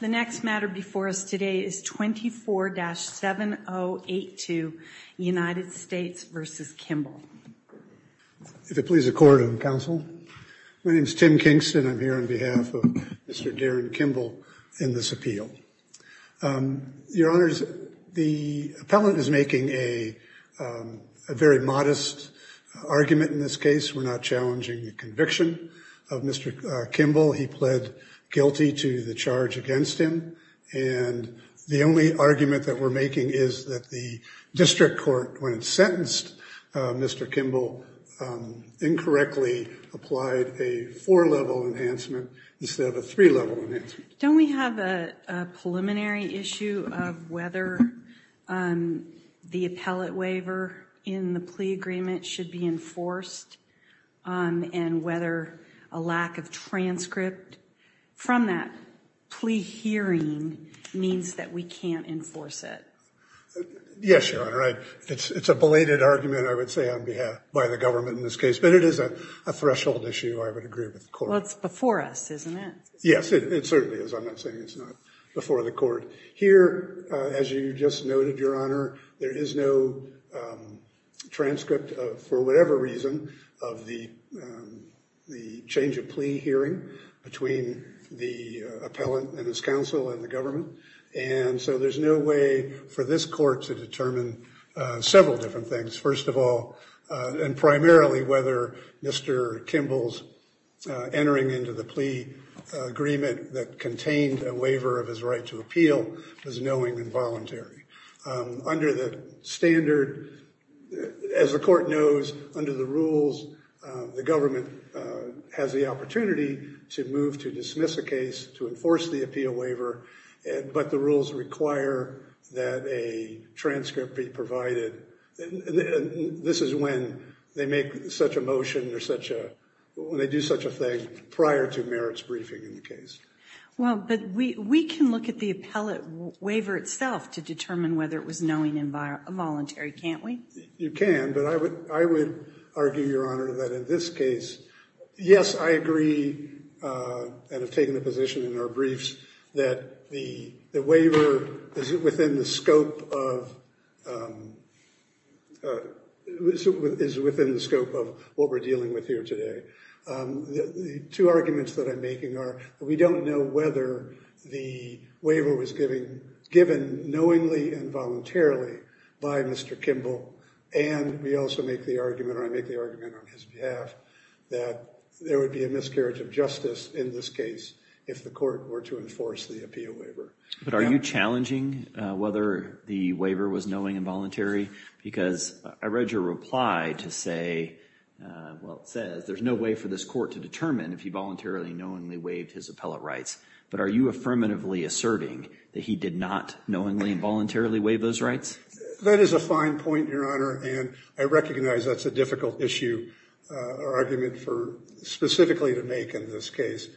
The next matter before us today is 24-7082 United States v. Kimble. If it please the court and counsel, my name is Tim Kingston. I'm here on behalf of Mr. Darren Kimble in this appeal. Your honors, the appellant is making a very modest argument in this case. We're not challenging the conviction of Mr. Kimble. He pled guilty to the charge against him. And the only argument that we're making is that the district court, when it sentenced Mr. Kimble, incorrectly applied a four-level enhancement instead of a three-level enhancement. Don't we have a preliminary issue of whether the appellate waiver in the plea agreement should be enforced? And whether a lack of transcript from that plea hearing means that we can't enforce it. Yes, your honor. It's a belated argument, I would say, on behalf, by the government in this case. But it is a threshold issue, I would agree with the court. Well, it's before us, isn't it? Yes, it certainly is. I'm not saying it's not before the court. Here, as you just noted, your honor, there is no transcript. For whatever reason, of the change of plea hearing between the appellant and his counsel and the government. And so there's no way for this court to determine several different things. First of all, and primarily whether Mr. Kimble's entering into the plea agreement that contained a waiver of his right to appeal was knowing and voluntary. Under the standard, as the court knows, under the rules, the government has the opportunity to move to dismiss a case, to enforce the appeal waiver, but the rules require that a transcript be provided. This is when they make such a motion or such a, when they do such a thing prior to merits briefing in the case. Well, but we can look at the appellate waiver itself to determine whether it was knowing and voluntary, can't we? You can, but I would argue, your honor, that in this case, yes, I agree and have taken a position in our briefs that the waiver is within the scope of what we're dealing with here today. The two arguments that I'm making are we don't know whether the waiver was given knowingly and voluntarily by Mr. Kimble, and we also make the argument, or I make the argument on his behalf, that there would be a miscarriage of justice in this case if the court were to enforce the appeal waiver. But are you challenging whether the waiver was knowing and voluntary? Because I read your reply to say, well, it says, there's no way for this court to determine if he voluntarily and knowingly waived his appellate rights. But are you affirmatively asserting that he did not knowingly and voluntarily waive those rights? That is a fine point, your honor, and I recognize that's a difficult issue or argument for specifically to make in this case.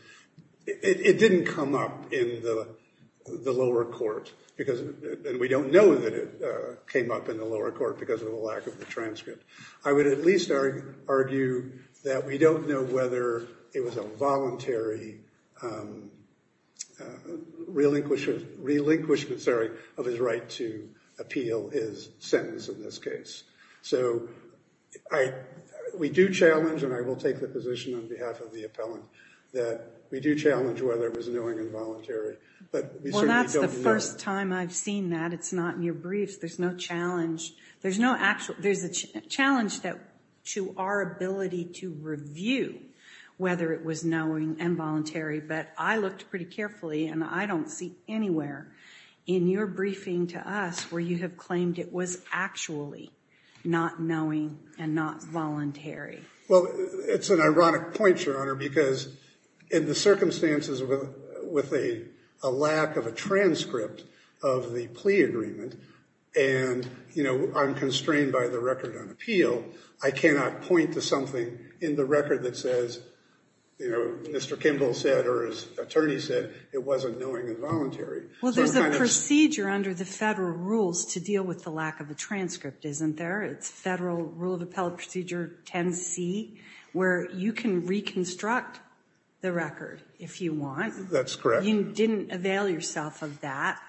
It didn't come up in the lower court, and we don't know that it came up in the lower court because of the lack of the transcript. I would at least argue that we don't know whether it was a voluntary relinquishment of his right to appeal his sentence in this case. So we do challenge, and I will take the position on behalf of the appellant, that we do challenge whether it was knowing and voluntary. But we certainly don't know. Well, that's the first time I've seen that. It's not in your briefs. There's no challenge. There's a challenge to our ability to review whether it was knowing and voluntary, but I looked pretty carefully, and I don't see anywhere in your briefing to us where you have claimed it was actually not knowing and not voluntary. Well, it's an ironic point, your honor, because in the circumstances with a lack of a transcript of the plea agreement and, you know, I'm constrained by the record on appeal, I cannot point to something in the record that says, you know, Mr. Kimball said or his attorney said it wasn't knowing and voluntary. Well, there's a procedure under the federal rules to deal with the lack of a transcript, isn't there? It's Federal Rule of Appellate Procedure 10C, where you can reconstruct the record if you want. That's correct. You didn't avail yourself of that.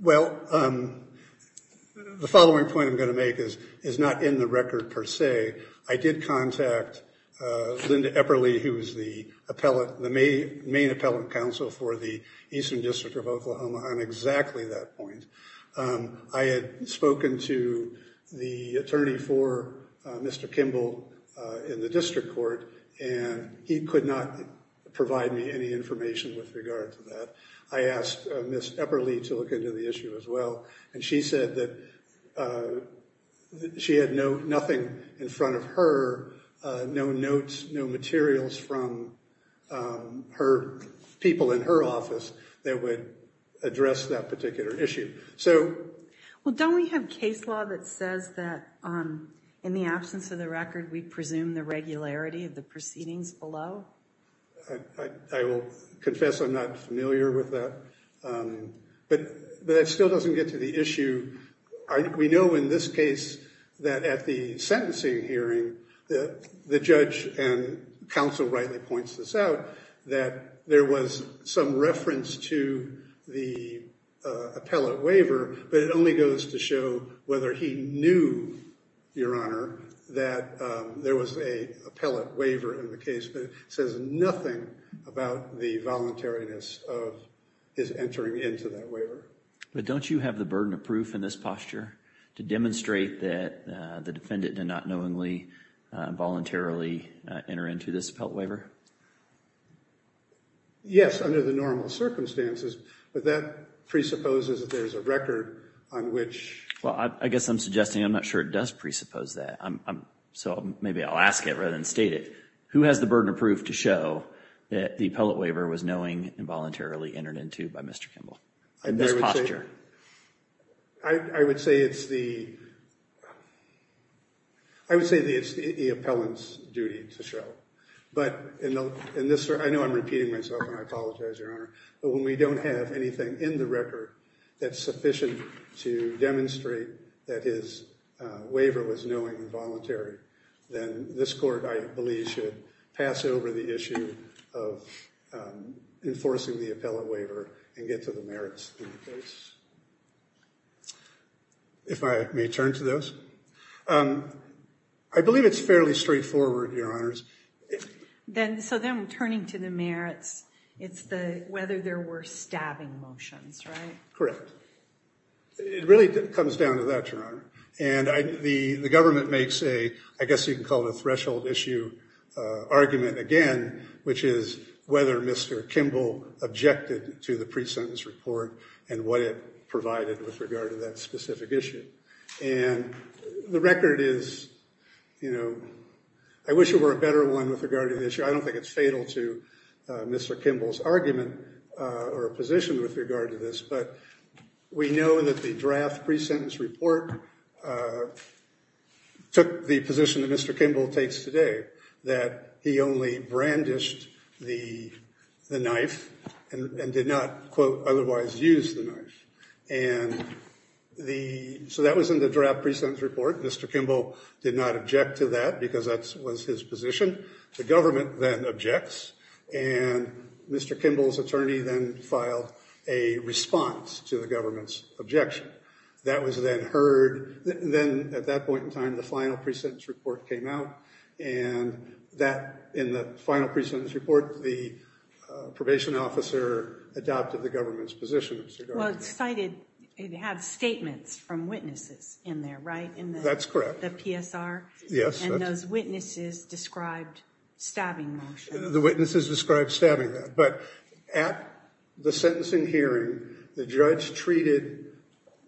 Well, the following point I'm going to make is not in the record per se. I did contact Linda Epperle, who is the main appellate counsel for the Eastern District of Oklahoma on exactly that point. I had spoken to the attorney for Mr. Kimball in the district court, and he could not provide me any information with regard to that. I asked Ms. Epperle to look into the issue as well, and she said that she had nothing in front of her, no notes, no materials from people in her office that would address that particular issue. Well, don't we have case law that says that in the absence of the record, we presume the regularity of the proceedings below? I will confess I'm not familiar with that. But that still doesn't get to the issue. We know in this case that at the sentencing hearing, the judge and counsel rightly points this out, that there was some reference to the appellate waiver, but it only goes to show whether he knew, Your Honor, that there was an appellate waiver in the case, but it says nothing about the voluntariness of his entering into that waiver. But don't you have the burden of proof in this posture to demonstrate that the defendant did not knowingly, voluntarily enter into this appellate waiver? Yes, under the normal circumstances, but that presupposes that there's a record on which— Well, I guess I'm suggesting I'm not sure it does presuppose that. So maybe I'll ask it rather than state it. Who has the burden of proof to show that the appellate waiver was knowing involuntarily entered into by Mr. Kimball in this posture? I would say it's the—I would say it's the appellant's duty to show. But in this—I know I'm repeating myself and I apologize, Your Honor. But when we don't have anything in the record that's sufficient to demonstrate that his waiver was knowing and voluntary, then this court, I believe, should pass over the issue of enforcing the appellate waiver and get to the merits in the case. If I may turn to those. I believe it's fairly straightforward, Your Honors. So then turning to the merits, it's whether there were stabbing motions, right? Correct. It really comes down to that, Your Honor. And the government makes a—I guess you can call it a threshold issue argument again, which is whether Mr. Kimball objected to the pre-sentence report and what it provided with regard to that specific issue. And the record is, you know, I wish it were a better one with regard to this. I don't think it's fatal to Mr. Kimball's argument or position with regard to this. But we know that the draft pre-sentence report took the position that Mr. Kimball takes today, that he only brandished the knife and did not, quote, otherwise use the knife. And so that was in the draft pre-sentence report. Mr. Kimball did not object to that because that was his position. The government then objects. And Mr. Kimball's attorney then filed a response to the government's objection. That was then heard. Then at that point in time, the final pre-sentence report came out. And in the final pre-sentence report, the probation officer adopted the government's position. Well, it cited statements from witnesses in there, right? That's correct. In the PSR? Yes. And those witnesses described stabbing motion. The witnesses described stabbing that. But at the sentencing hearing, the judge treated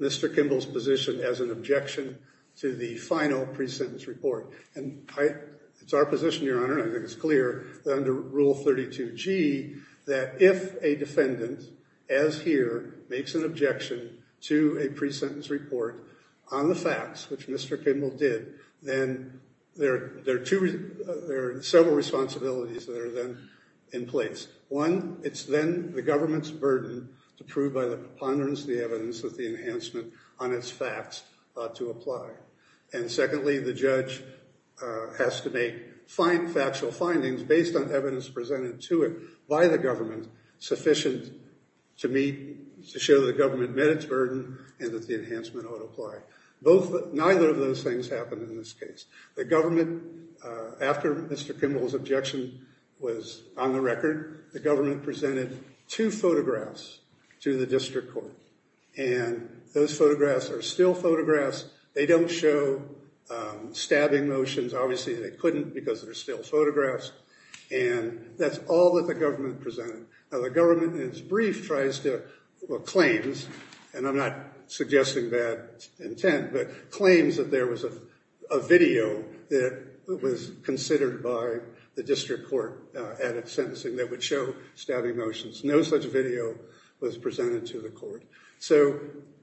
Mr. Kimball's position as an objection to the final pre-sentence report. It's our position, Your Honor, and I think it's clear that under Rule 32G, that if a defendant, as here, makes an objection to a pre-sentence report on the facts, which Mr. Kimball did, then there are several responsibilities that are then in place. One, it's then the government's burden to prove by the preponderance of the evidence that the enhancement on its facts ought to apply. And secondly, the judge has to make factual findings based on evidence presented to it by the government sufficient to show the government met its burden and that the enhancement ought to apply. Neither of those things happened in this case. The government, after Mr. Kimball's objection was on the record, the government presented two photographs to the district court. And those photographs are still photographs. They don't show stabbing motions. Obviously, they couldn't because they're still photographs. And that's all that the government presented. Now, the government, in its brief, tries to, well, claims, and I'm not suggesting bad intent, but claims that there was a video that was considered by the district court at its sentencing that would show stabbing motions. No such video was presented to the court. So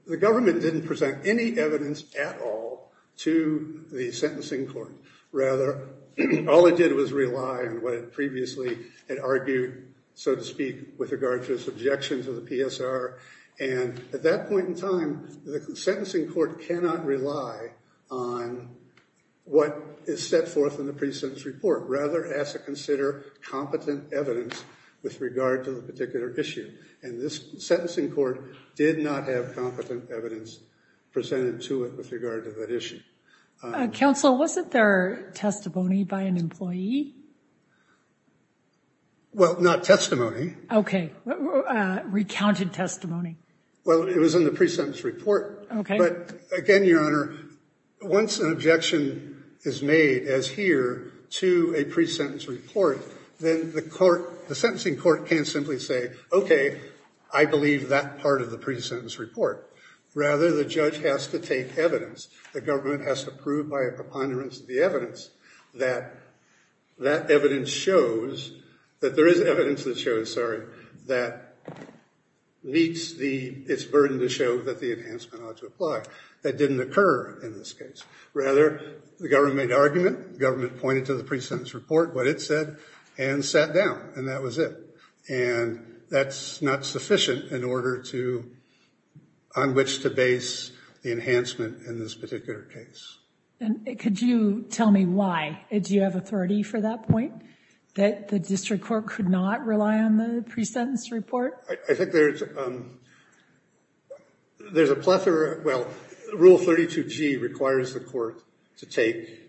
the government didn't present any evidence at all to the sentencing court. Rather, all it did was rely on what it previously had argued, so to speak, with regard to its objection to the PSR. And at that point in time, the sentencing court cannot rely on what is set forth in the pre-sentence report. Rather, it has to consider competent evidence with regard to the particular issue. And this sentencing court did not have competent evidence presented to it with regard to that issue. Counsel, wasn't there testimony by an employee? Well, not testimony. Okay. Recounted testimony. Well, it was in the pre-sentence report. Okay. But again, Your Honor, once an objection is made, as here, to a pre-sentence report, then the court, the sentencing court can't simply say, okay, I believe that part of the pre-sentence report. Rather, the judge has to take evidence. The government has to prove by a preponderance of the evidence that that evidence shows, that there is evidence that shows, sorry, that meets its burden to show that the enhancement ought to apply. That didn't occur in this case. Rather, the government made an argument. The government pointed to the pre-sentence report, what it said, and sat down. And that was it. And that's not sufficient in order to, on which to base the enhancement in this particular case. And could you tell me why? Do you have authority for that point, that the district court could not rely on the pre-sentence report? I think there's a plethora. Well, Rule 32G requires the court to take,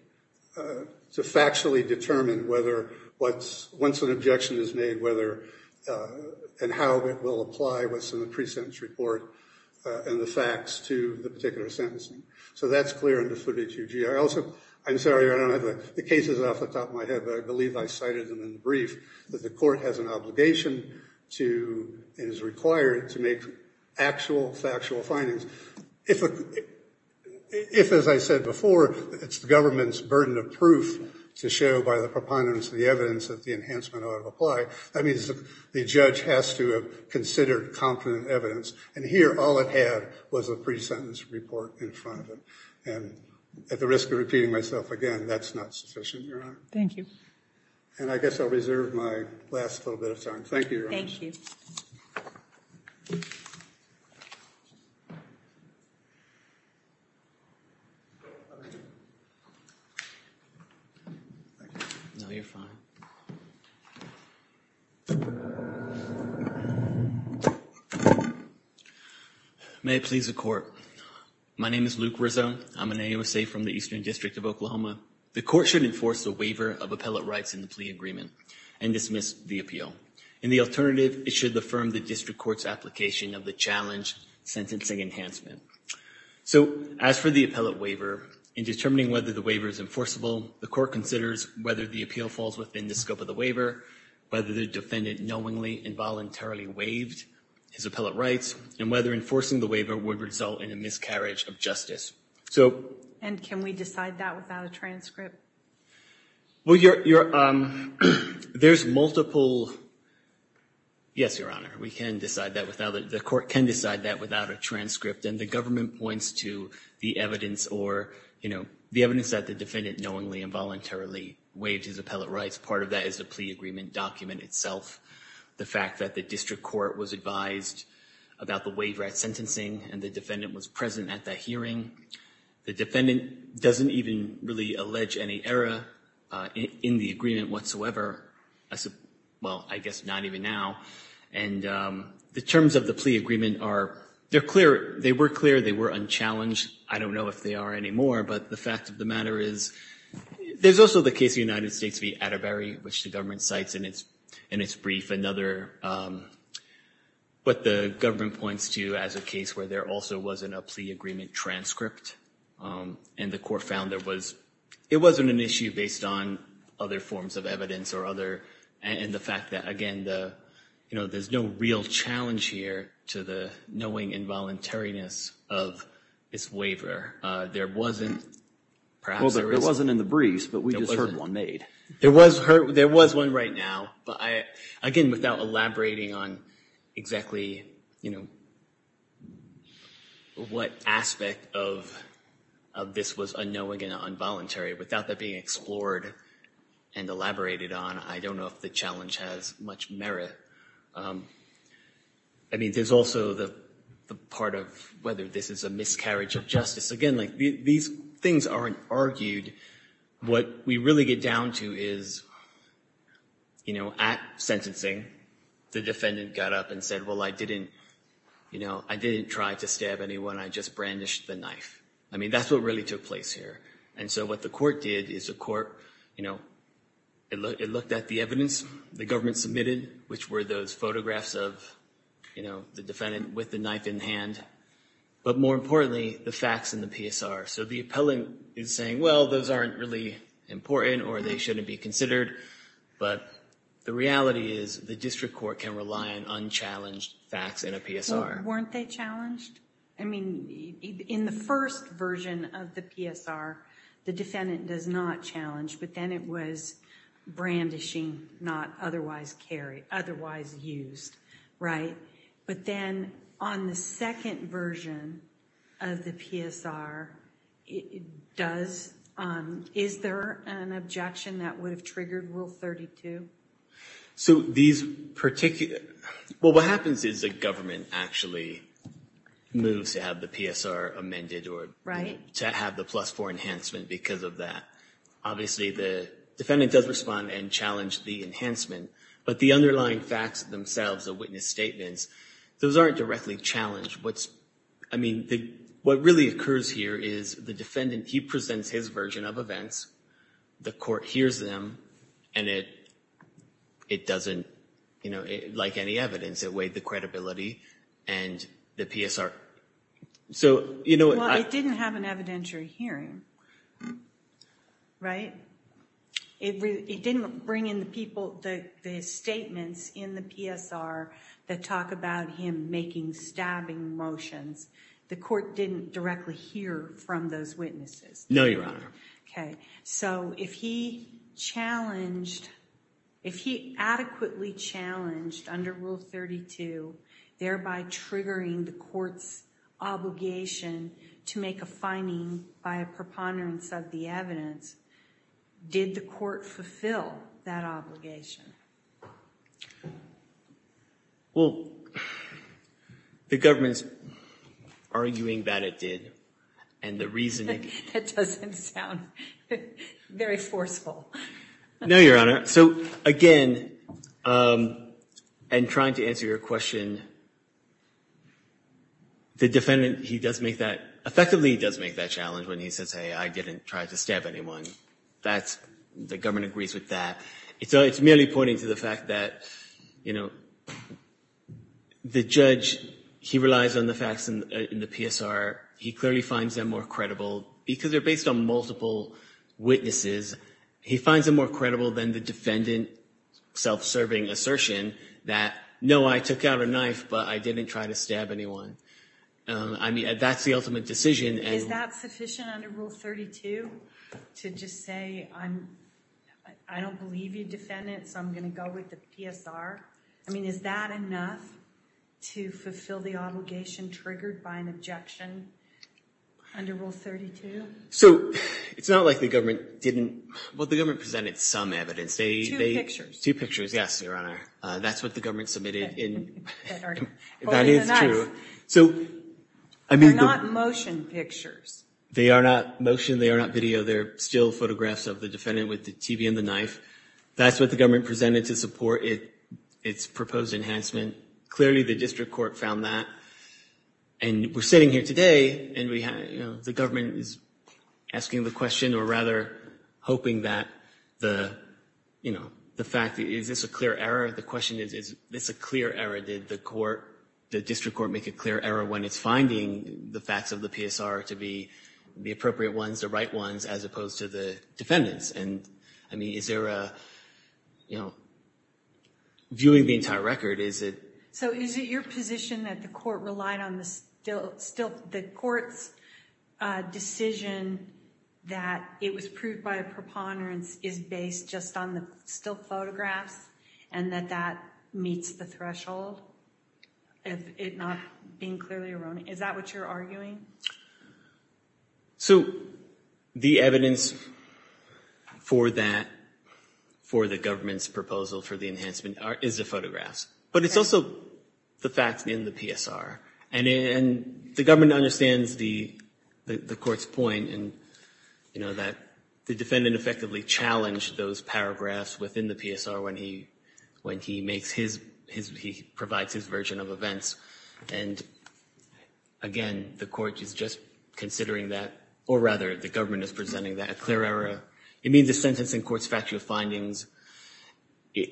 to factually determine whether what's, once an objection is made, whether and how it will apply what's in the pre-sentence report and the facts to the particular sentencing. So that's clear in the 32G. I also, I'm sorry, I don't have the cases off the top of my head, but I believe I cited them in the brief, that the court has an obligation to, and is required to make actual factual findings. If, as I said before, it's the government's burden of proof to show by the preponderance of the evidence that the enhancement ought to apply, that means the judge has to have considered confident evidence. And here, all it had was a pre-sentence report in front of it. And at the risk of repeating myself again, that's not sufficient, Your Honor. Thank you. And I guess I'll reserve my last little bit of time. Thank you, Your Honor. Thank you. No, you're fine. May it please the court. My name is Luke Rizzo. I'm an AOC from the Eastern District of Oklahoma. The court should enforce a waiver of appellate rights in the plea agreement and dismiss the appeal. In the alternative, it should affirm the district court's application of the challenge sentencing enhancement. So as for the appellate waiver, in determining whether the waiver is enforceable, the court considers whether the appeal falls within the scope of the waiver, whether the defendant knowingly and voluntarily waived his appellate rights, and whether enforcing the waiver would result in a miscarriage of justice. And can we decide that without a transcript? Well, there's multiple yes, Your Honor. We can decide that without it. The court can decide that without a transcript. And the government points to the evidence or, you know, the evidence that the defendant knowingly and voluntarily waived his appellate rights. Part of that is the plea agreement document itself, the fact that the district court was advised about the waiver at sentencing and the defendant was present at that hearing. The defendant doesn't even really allege any error in the agreement whatsoever. Well, I guess not even now. And the terms of the plea agreement are clear. They were clear. They were unchallenged. I don't know if they are anymore, but the fact of the matter is, there's also the case of the United States v. Atterbury, which the government cites in its brief, but the government points to as a case where there also wasn't a plea agreement transcript. And the court found it wasn't an issue based on other forms of evidence and the fact that, again, you know, there's no real challenge here to the knowing and voluntariness of this waiver. There wasn't perhaps a reason. Well, there wasn't in the briefs, but we just heard one made. There was one right now. But, again, without elaborating on exactly, you know, what aspect of this was unknowing and involuntary, without that being explored and elaborated on, I don't know if the challenge has much merit. I mean, there's also the part of whether this is a miscarriage of justice. Again, like these things aren't argued. What we really get down to is, you know, at sentencing, the defendant got up and said, well, I didn't, you know, I didn't try to stab anyone. I just brandished the knife. I mean, that's what really took place here. And so what the court did is the court, you know, it looked at the evidence the government submitted, which were those photographs of, you know, the defendant with the knife in hand, but more importantly, the facts in the PSR. So the appellant is saying, well, those aren't really important or they shouldn't be considered, but the reality is the district court can rely on unchallenged facts in a PSR. Well, weren't they challenged? I mean, in the first version of the PSR, the defendant does not challenge, but then it was brandishing, not otherwise used, right? But then on the second version of the PSR, is there an objection that would have triggered Rule 32? So these particular – well, what happens is the government actually moves to have the PSR amended or to have the plus four enhancement because of that. Obviously the defendant does respond and challenge the enhancement, but the underlying facts themselves, the witness statements, those aren't directly challenged. I mean, what really occurs here is the defendant, he presents his version of events. The court hears them and it doesn't – like any evidence, it weighed the credibility and the PSR. So – Well, it didn't have an evidentiary hearing, right? It didn't bring in the people, the statements in the PSR that talk about him making stabbing motions. The court didn't directly hear from those witnesses. No, Your Honor. Okay. So if he challenged – if he adequately challenged under Rule 32, thereby triggering the court's obligation to make a finding by a preponderance of the evidence, did the court fulfill that obligation? Well, the government's arguing that it did, and the reasoning – That doesn't sound very forceful. No, Your Honor. So, again, and trying to answer your question, the defendant, he does make that – effectively he does make that challenge when he says, hey, I didn't try to stab anyone. That's – the government agrees with that. It's merely pointing to the fact that, you know, the judge, he relies on the facts in the PSR. He clearly finds them more credible because they're based on multiple witnesses. He finds them more credible than the defendant self-serving assertion that, no, I took out a knife, but I didn't try to stab anyone. I mean, that's the ultimate decision. Is that sufficient under Rule 32 to just say, I don't believe you, defendant, so I'm going to go with the PSR? I mean, is that enough to fulfill the obligation triggered by an objection under Rule 32? So, it's not like the government didn't – well, the government presented some evidence. Two pictures. Two pictures, yes, Your Honor. That's what the government submitted in – That is true. They're not motion pictures. They are not motion. They are not video. They're still photographs of the defendant with the TV and the knife. That's what the government presented to support its proposed enhancement. Clearly, the district court found that, and we're sitting here today, and the government is asking the question, or rather hoping that the fact – is this a clear error? The question is, is this a clear error? Did the court, the district court, make a clear error when it's finding the facts of the PSR to be the appropriate ones, the right ones, as opposed to the defendants? And, I mean, is there a – viewing the entire record, is it – So is it your position that the court relied on the still – the court's decision that it was proved by a preponderance is based just on the still photographs and that that meets the threshold of it not being clearly erroneous? Is that what you're arguing? So the evidence for that, for the government's proposal for the enhancement, is the photographs. But it's also the facts in the PSR. And the government understands the court's point in that the defendant effectively challenged those paragraphs within the PSR when he makes his – he provides his version of events. And, again, the court is just considering that, or rather the government is presenting that a clear error. It means the sentencing court's factual findings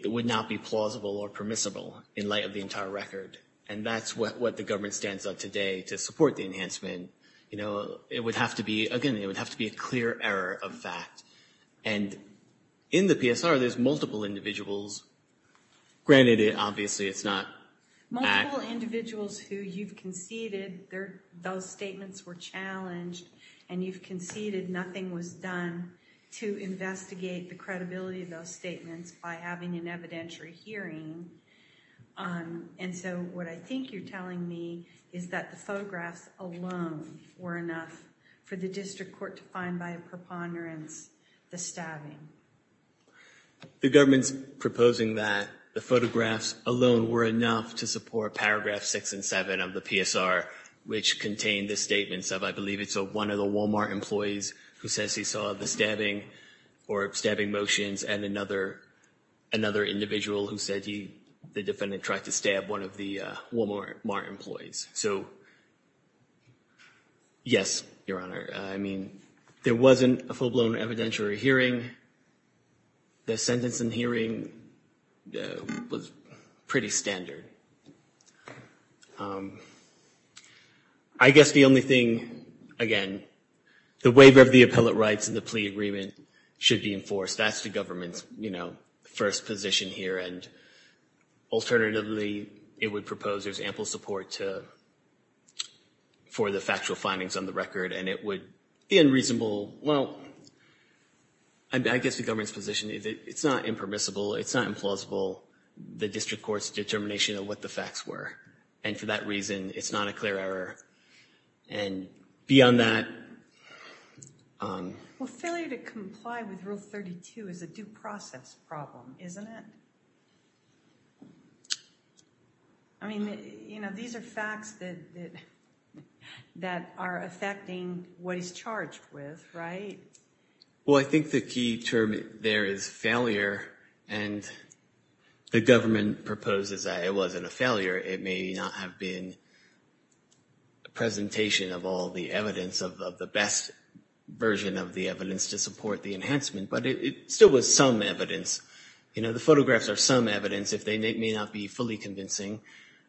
would not be plausible or permissible in light of the entire record. And that's what the government stands on today to support the enhancement. You know, it would have to be – again, it would have to be a clear error of fact. And in the PSR, there's multiple individuals. Granted, obviously it's not – Multiple individuals who you've conceded those statements were challenged, and you've conceded nothing was done. To investigate the credibility of those statements by having an evidentiary hearing. And so what I think you're telling me is that the photographs alone were enough for the district court to find by a preponderance the stabbing. The government's proposing that the photographs alone were enough to support paragraphs 6 and 7 of the PSR, which contain the statements of, I believe, it's one of the Walmart employees who says he saw the stabbing or stabbing motions and another individual who said the defendant tried to stab one of the Walmart employees. So, yes, Your Honor. I mean, there wasn't a full-blown evidentiary hearing. The sentencing hearing was pretty standard. I guess the only thing, again, the waiver of the appellate rights and the plea agreement should be enforced. That's the government's, you know, first position here. And alternatively, it would propose there's ample support for the factual findings on the record, and it would be unreasonable. Well, I guess the government's position is it's not impermissible, it's not implausible. The district court's determination of what the facts were, and for that reason, it's not a clear error. And beyond that... Well, failure to comply with Rule 32 is a due process problem, isn't it? I mean, you know, these are facts that are affecting what he's charged with, right? Well, I think the key term there is failure, and the government proposes that it wasn't a failure. It may not have been a presentation of all the evidence, of the best version of the evidence to support the enhancement, but it still was some evidence. You know, the photographs are some evidence. If they may not be fully convincing...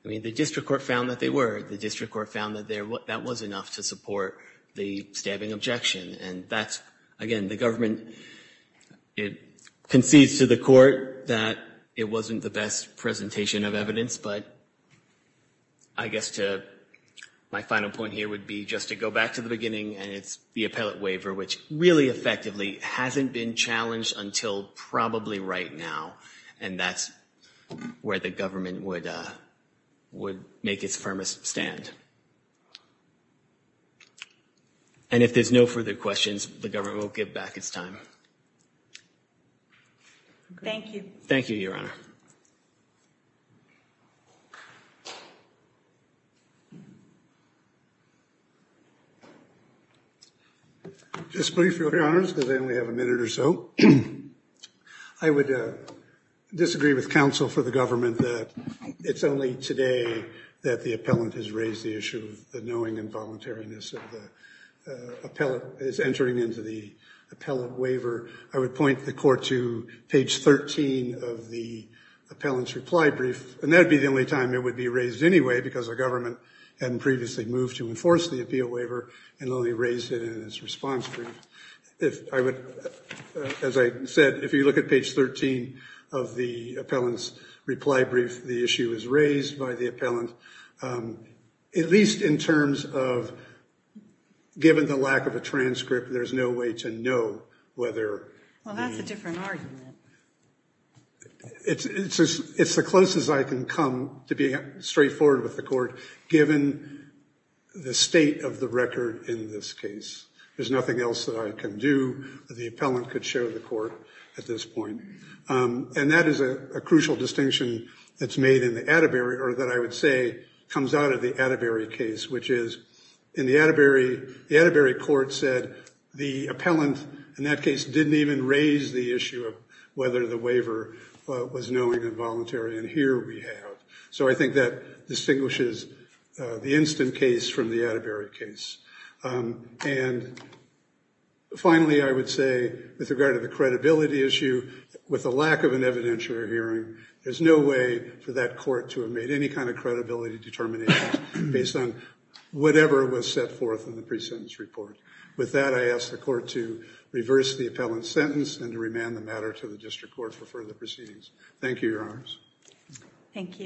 I mean, the district court found that they were. The district court found that that was enough to support the stabbing objection, and that's, again, the government... It concedes to the court that it wasn't the best presentation of evidence, but I guess my final point here would be just to go back to the beginning, and it's the appellate waiver, which really effectively hasn't been challenged until probably right now, and that's where the government would make its firmest stand. And if there's no further questions, the government will give back its time. Thank you. Thank you, Your Honor. Just briefly, Your Honors, because I only have a minute or so, I would disagree with counsel for the government that it's only today that the appellant has raised the issue of the knowing and voluntariness of the appellant is entering into the appellant waiver. I would point the court to page 13 of the appellant's reply brief, and that would be the only time it would be raised anyway because the government hadn't previously moved to enforce the appeal waiver and only raised it in its response brief. As I said, if you look at page 13 of the appellant's reply brief, the issue is raised by the appellant, at least in terms of given the lack of a transcript, there's no way to know whether... Well, that's a different argument. It's the closest I can come to being straightforward with the court given the state of the record in this case. There's nothing else that I can do. The appellant could show the court at this point, and that is a crucial distinction that's made in the Atterbury or that I would say comes out of the Atterbury case, which is the Atterbury court said the appellant in that case didn't even raise the issue of whether the waiver was knowing and voluntary, and here we have. So I think that distinguishes the instant case from the Atterbury case. And finally, I would say, with regard to the credibility issue, with the lack of an evidentiary hearing, there's no way for that court to have made any kind of credibility determination based on whatever was set forth in the presentence report. With that, I ask the court to reverse the appellant's sentence and to remand the matter to the district court for further proceedings. Thank you, Your Honors. Thank you.